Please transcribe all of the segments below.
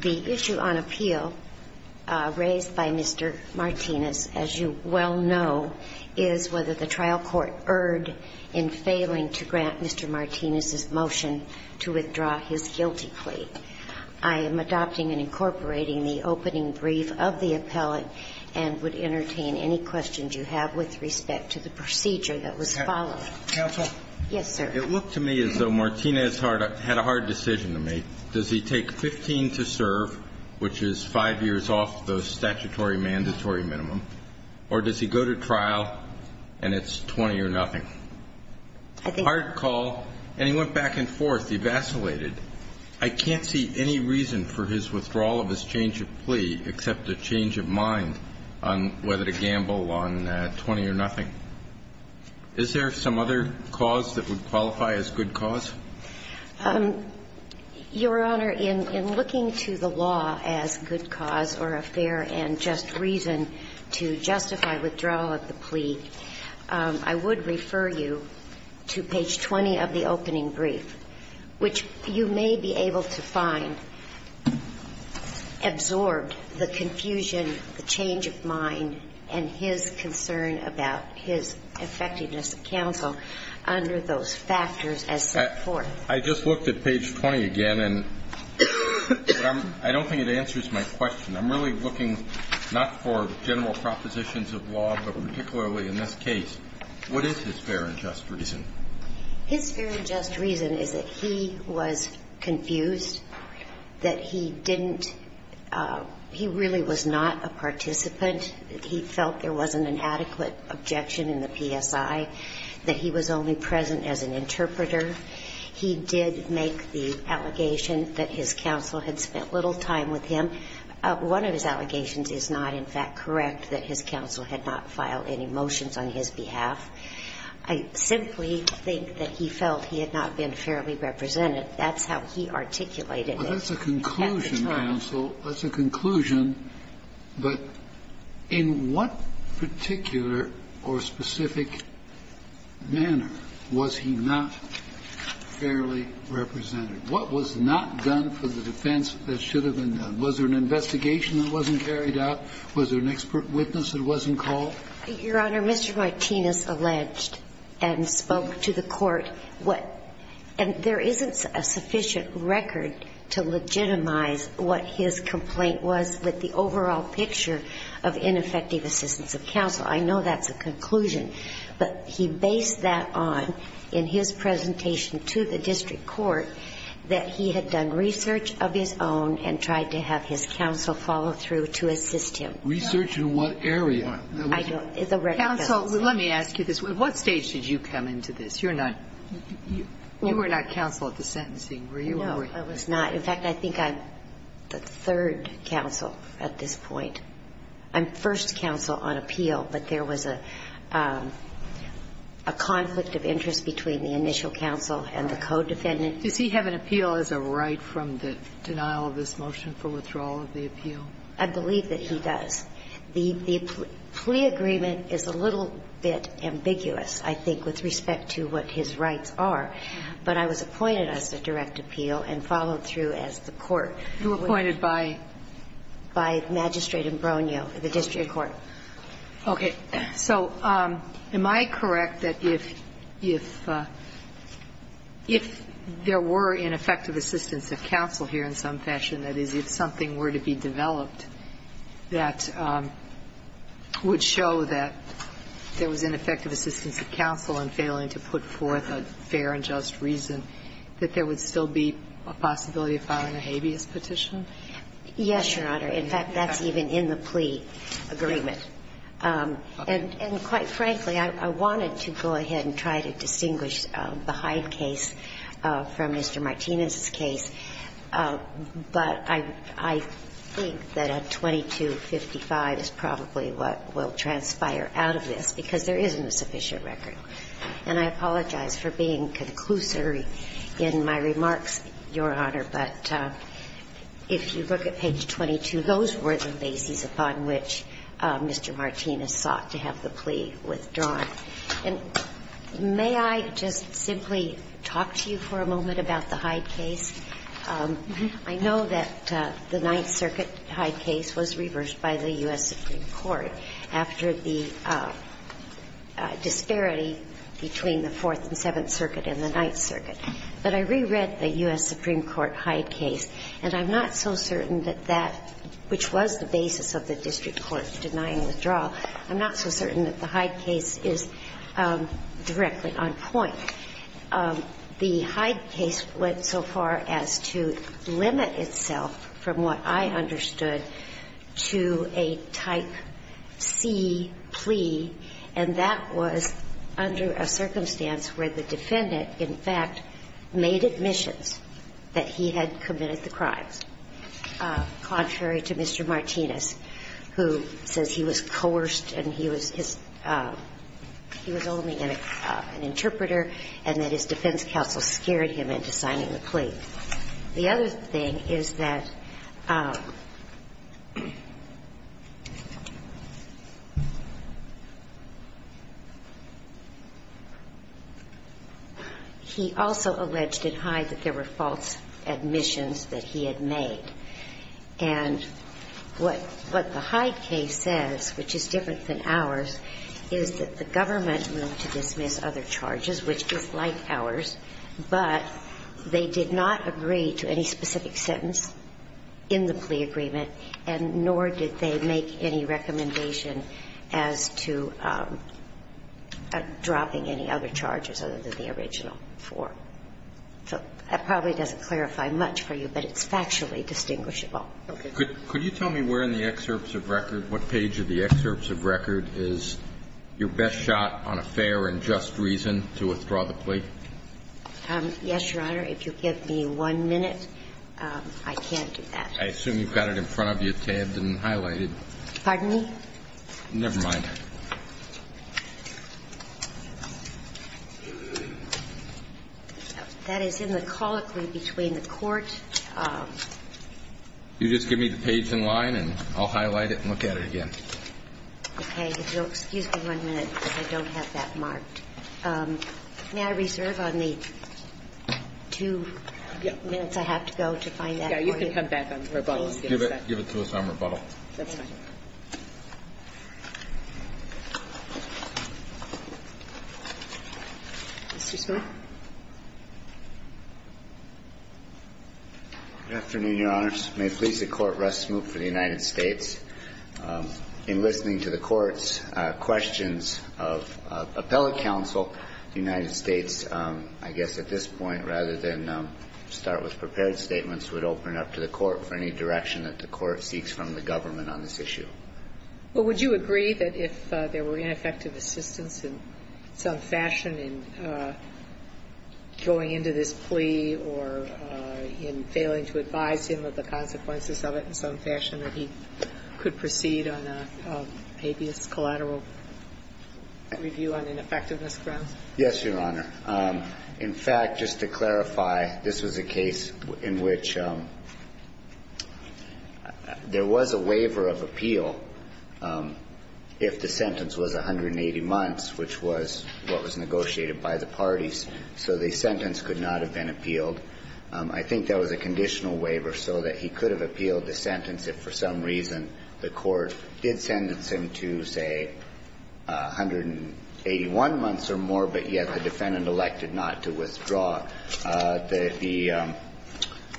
The issue on appeal raised by Mr. Martinez, as you well know, is whether the trial court would be heard in failing to grant Mr. Martinez's motion to withdraw his guilty plea. I am adopting and incorporating the opening brief of the appellate and would entertain any questions you have with respect to the procedure that was followed. Yes, sir? It looked to me as though Martinez had a hard decision to make. Does he take 15 to serve, which is 5 years off the statutory mandatory minimum, or does he go to trial and it's 20 or nothing? I think he's going to go to trial. Hard call. And he went back and forth. He vacillated. I can't see any reason for his withdrawal of his change of plea except a change of mind on whether to gamble on 20 or nothing. Is there some other cause that would qualify as good cause? Your Honor, in looking to the law as good cause or a fair and just reason to withdraw the plea, I would refer you to page 20 of the opening brief, which you may be able to find absorbed the confusion, the change of mind, and his concern about his effectiveness of counsel under those factors as set forth. I just looked at page 20 again, and I don't think it answers my question. I'm really looking not for general propositions of law, but particularly in this case, what is his fair and just reason? His fair and just reason is that he was confused, that he didn't he really was not a participant, that he felt there wasn't an adequate objection in the PSI, that he was only present as an interpreter. He did make the allegation that his counsel had spent little time with him. One of his allegations is not, in fact, correct that his counsel had not filed any motions on his behalf. I simply think that he felt he had not been fairly represented. That's how he articulated it at the time. That's a conclusion, counsel. That's a conclusion. But in what particular or specific manner was he not fairly represented? What was not done for the defense that should have been done? Was there an investigation that wasn't carried out? Was there an expert witness that wasn't called? Your Honor, Mr. Martinez alleged and spoke to the court what – and there isn't a sufficient record to legitimize what his complaint was with the overall picture of ineffective assistance of counsel. I know that's a conclusion. But he based that on, in his presentation to the district court, that he had done his counsel follow through to assist him. Research in what area? I don't – the record doesn't say. Counsel, let me ask you this. At what stage did you come into this? You're not – you were not counsel at the sentencing. Were you? No, I was not. In fact, I think I'm the third counsel at this point. I'm first counsel on appeal, but there was a conflict of interest between the initial counsel and the co-defendant. Does he have an appeal as a right from the denial of this motion for withdrawal of the appeal? I believe that he does. The plea agreement is a little bit ambiguous, I think, with respect to what his rights are. But I was appointed as a direct appeal and followed through as the court. You were appointed by? By Magistrate Imbrugno, the district court. Okay. So am I correct that if – if there were ineffective assistance of counsel here in some fashion, that is, if something were to be developed that would show that there was ineffective assistance of counsel in failing to put forth a fair and just reason, that there would still be a possibility of filing a habeas petition? Yes, Your Honor. In fact, that's even in the plea agreement. And quite frankly, I wanted to go ahead and try to distinguish the Hyde case from Mr. Martinez's case, but I think that a 2255 is probably what will transpire out of this, because there isn't a sufficient record. And I apologize for being conclusive in my remarks, Your Honor, but if you look at page 22, those were the bases upon which Mr. Martinez sought to have the plea withdrawn. And may I just simply talk to you for a moment about the Hyde case? I know that the Ninth Circuit Hyde case was reversed by the U.S. Supreme Court after the disparity between the Fourth and Seventh Circuit and the Ninth Circuit. But I reread the U.S. Supreme Court Hyde case, and I'm not so certain that that which was the basis of the district court denying withdrawal, I'm not so certain that the Hyde case is directly on point. The Hyde case went so far as to limit itself, from what I understood, to a type of C plea, and that was under a circumstance where the defendant, in fact, made admissions that he had committed the crimes, contrary to Mr. Martinez, who says he was coerced and he was his – he was only an interpreter and that his defense counsel scared him into signing the plea. The other thing is that he also alleged at Hyde that there were false admissions that he had made. And what the Hyde case says, which is different than ours, is that the government moved to dismiss other charges, which is like ours, but they did not dismiss other charges. They did not agree to any specific sentence in the plea agreement, and nor did they make any recommendation as to dropping any other charges other than the original four. So that probably doesn't clarify much for you, but it's factually distinguishable. Okay. Could you tell me where in the excerpts of record, what page of the excerpts of record is your best shot on a fair and just reason to withdraw the plea? Yes, Your Honor. If you'll give me one minute, I can't do that. I assume you've got it in front of you tabbed and highlighted. Pardon me? Never mind. That is in the colloquy between the court. You just give me the page in line, and I'll highlight it and look at it again. Okay. If you'll excuse me one minute, because I don't have that marked. May I reserve on the two minutes I have to go to find that for you? You can come back on rebuttal. Give it to us on rebuttal. That's fine. Mr. Smoot. Good afternoon, Your Honors. May it please the Court, Russ Smoot for the United States. In listening to the Court's questions of appellate counsel, the United States, I guess at this point, rather than start with prepared statements, would open it up to the Court for any direction that the Court seeks from the government on this issue. Well, would you agree that if there were ineffective assistance in some fashion in going into this plea or in failing to advise him of the consequences of it in some fashion, that he could proceed on a habeas collateral review on ineffectiveness grounds? Yes, Your Honor. In fact, just to clarify, this was a case in which there was a waiver of appeal if the sentence was 180 months, which was what was negotiated by the parties. So the sentence could not have been appealed. I think that was a conditional waiver so that he could have appealed the sentence if for some reason the Court did sentence him to, say, 181 months or more, but yet the defendant elected not to withdraw.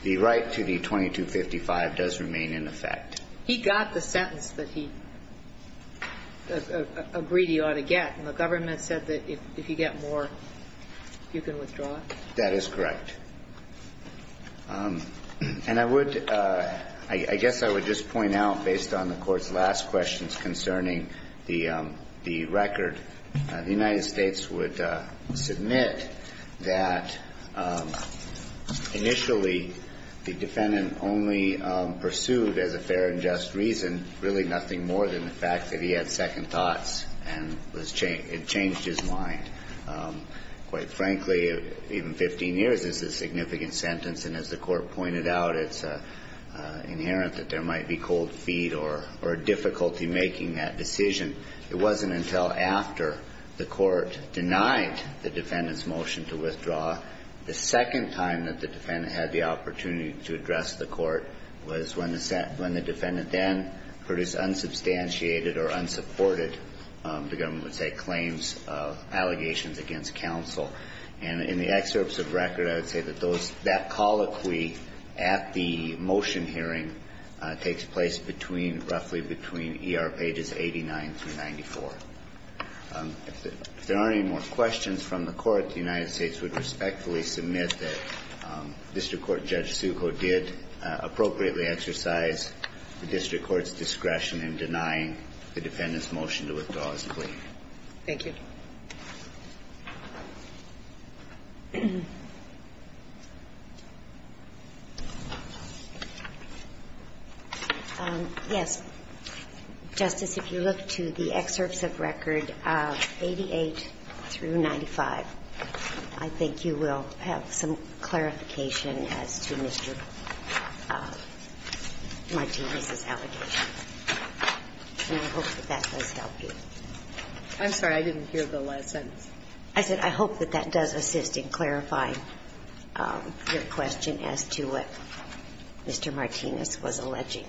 The right to the 2255 does remain in effect. He got the sentence that he agreed he ought to get, and the government said that if you get more, you can withdraw it? That is correct. And I would – I guess I would just point out, based on the Court's last questions concerning the record, the United States would submit that initially the defendant only pursued as a fair and just reason really nothing more than the fact that he had second thoughts and was – it changed his mind. Quite frankly, in 15 years, this is a significant sentence, and as the Court pointed out, it's inherent that there might be cold feet or difficulty making that decision. It wasn't until after the Court denied the defendant's motion to withdraw, the second time that the defendant had the opportunity to address the Court was when the defendant then produced unsubstantiated or unsupported, the government would say, claims of allegations against counsel. And in the excerpts of record, I would say that those – that colloquy at the motion hearing takes place between – roughly between ER pages 89 through 94. If there aren't any more questions from the Court, the United States would respectfully submit that district court Judge Succo did appropriately exercise the district court's discretion in denying the defendant's motion to withdraw his plea. Thank you. Yes. Justice, if you look to the excerpts of record of 88 through 95, I think you will have some clarification as to Mr. Martinez's allegations. And I hope that that does help you. I'm sorry. I didn't hear the last sentence. I said I hope that that does assist in clarifying your question as to what Mr. Martinez was alleging.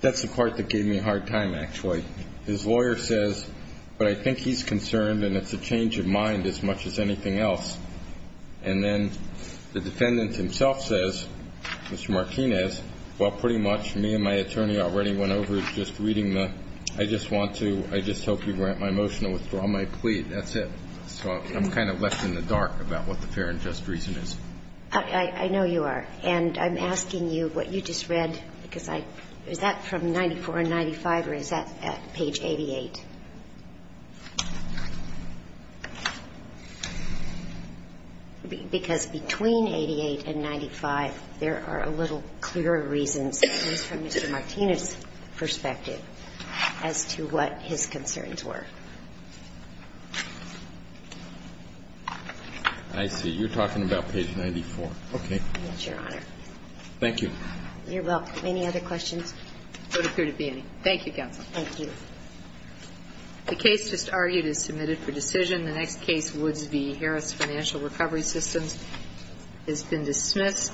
That's the part that gave me a hard time, actually. His lawyer says, but I think he's concerned and it's a change of mind as much as anything else. And then the defendant himself says, Mr. Martinez, well, pretty much me and my attorney already went over just reading the, I just want to, I just hope you grant my motion to withdraw my plea. That's it. So I'm kind of left in the dark about what the fair and just reason is. I know you are. And I'm asking you what you just read, because I, is that from 94 and 95 or is that at page 88? Because between 88 and 95, there are a little clearer reasons, at least from Mr. Martinez's perspective, as to what his concerns were. I see. You're talking about page 94. Okay. Thank you. Thank you. You're welcome. Any other questions? There don't appear to be any. Thank you, Counsel. Thank you. The case just argued is submitted for decision. The next case, Woods v. Harris Financial Recovery Systems, has been dismissed.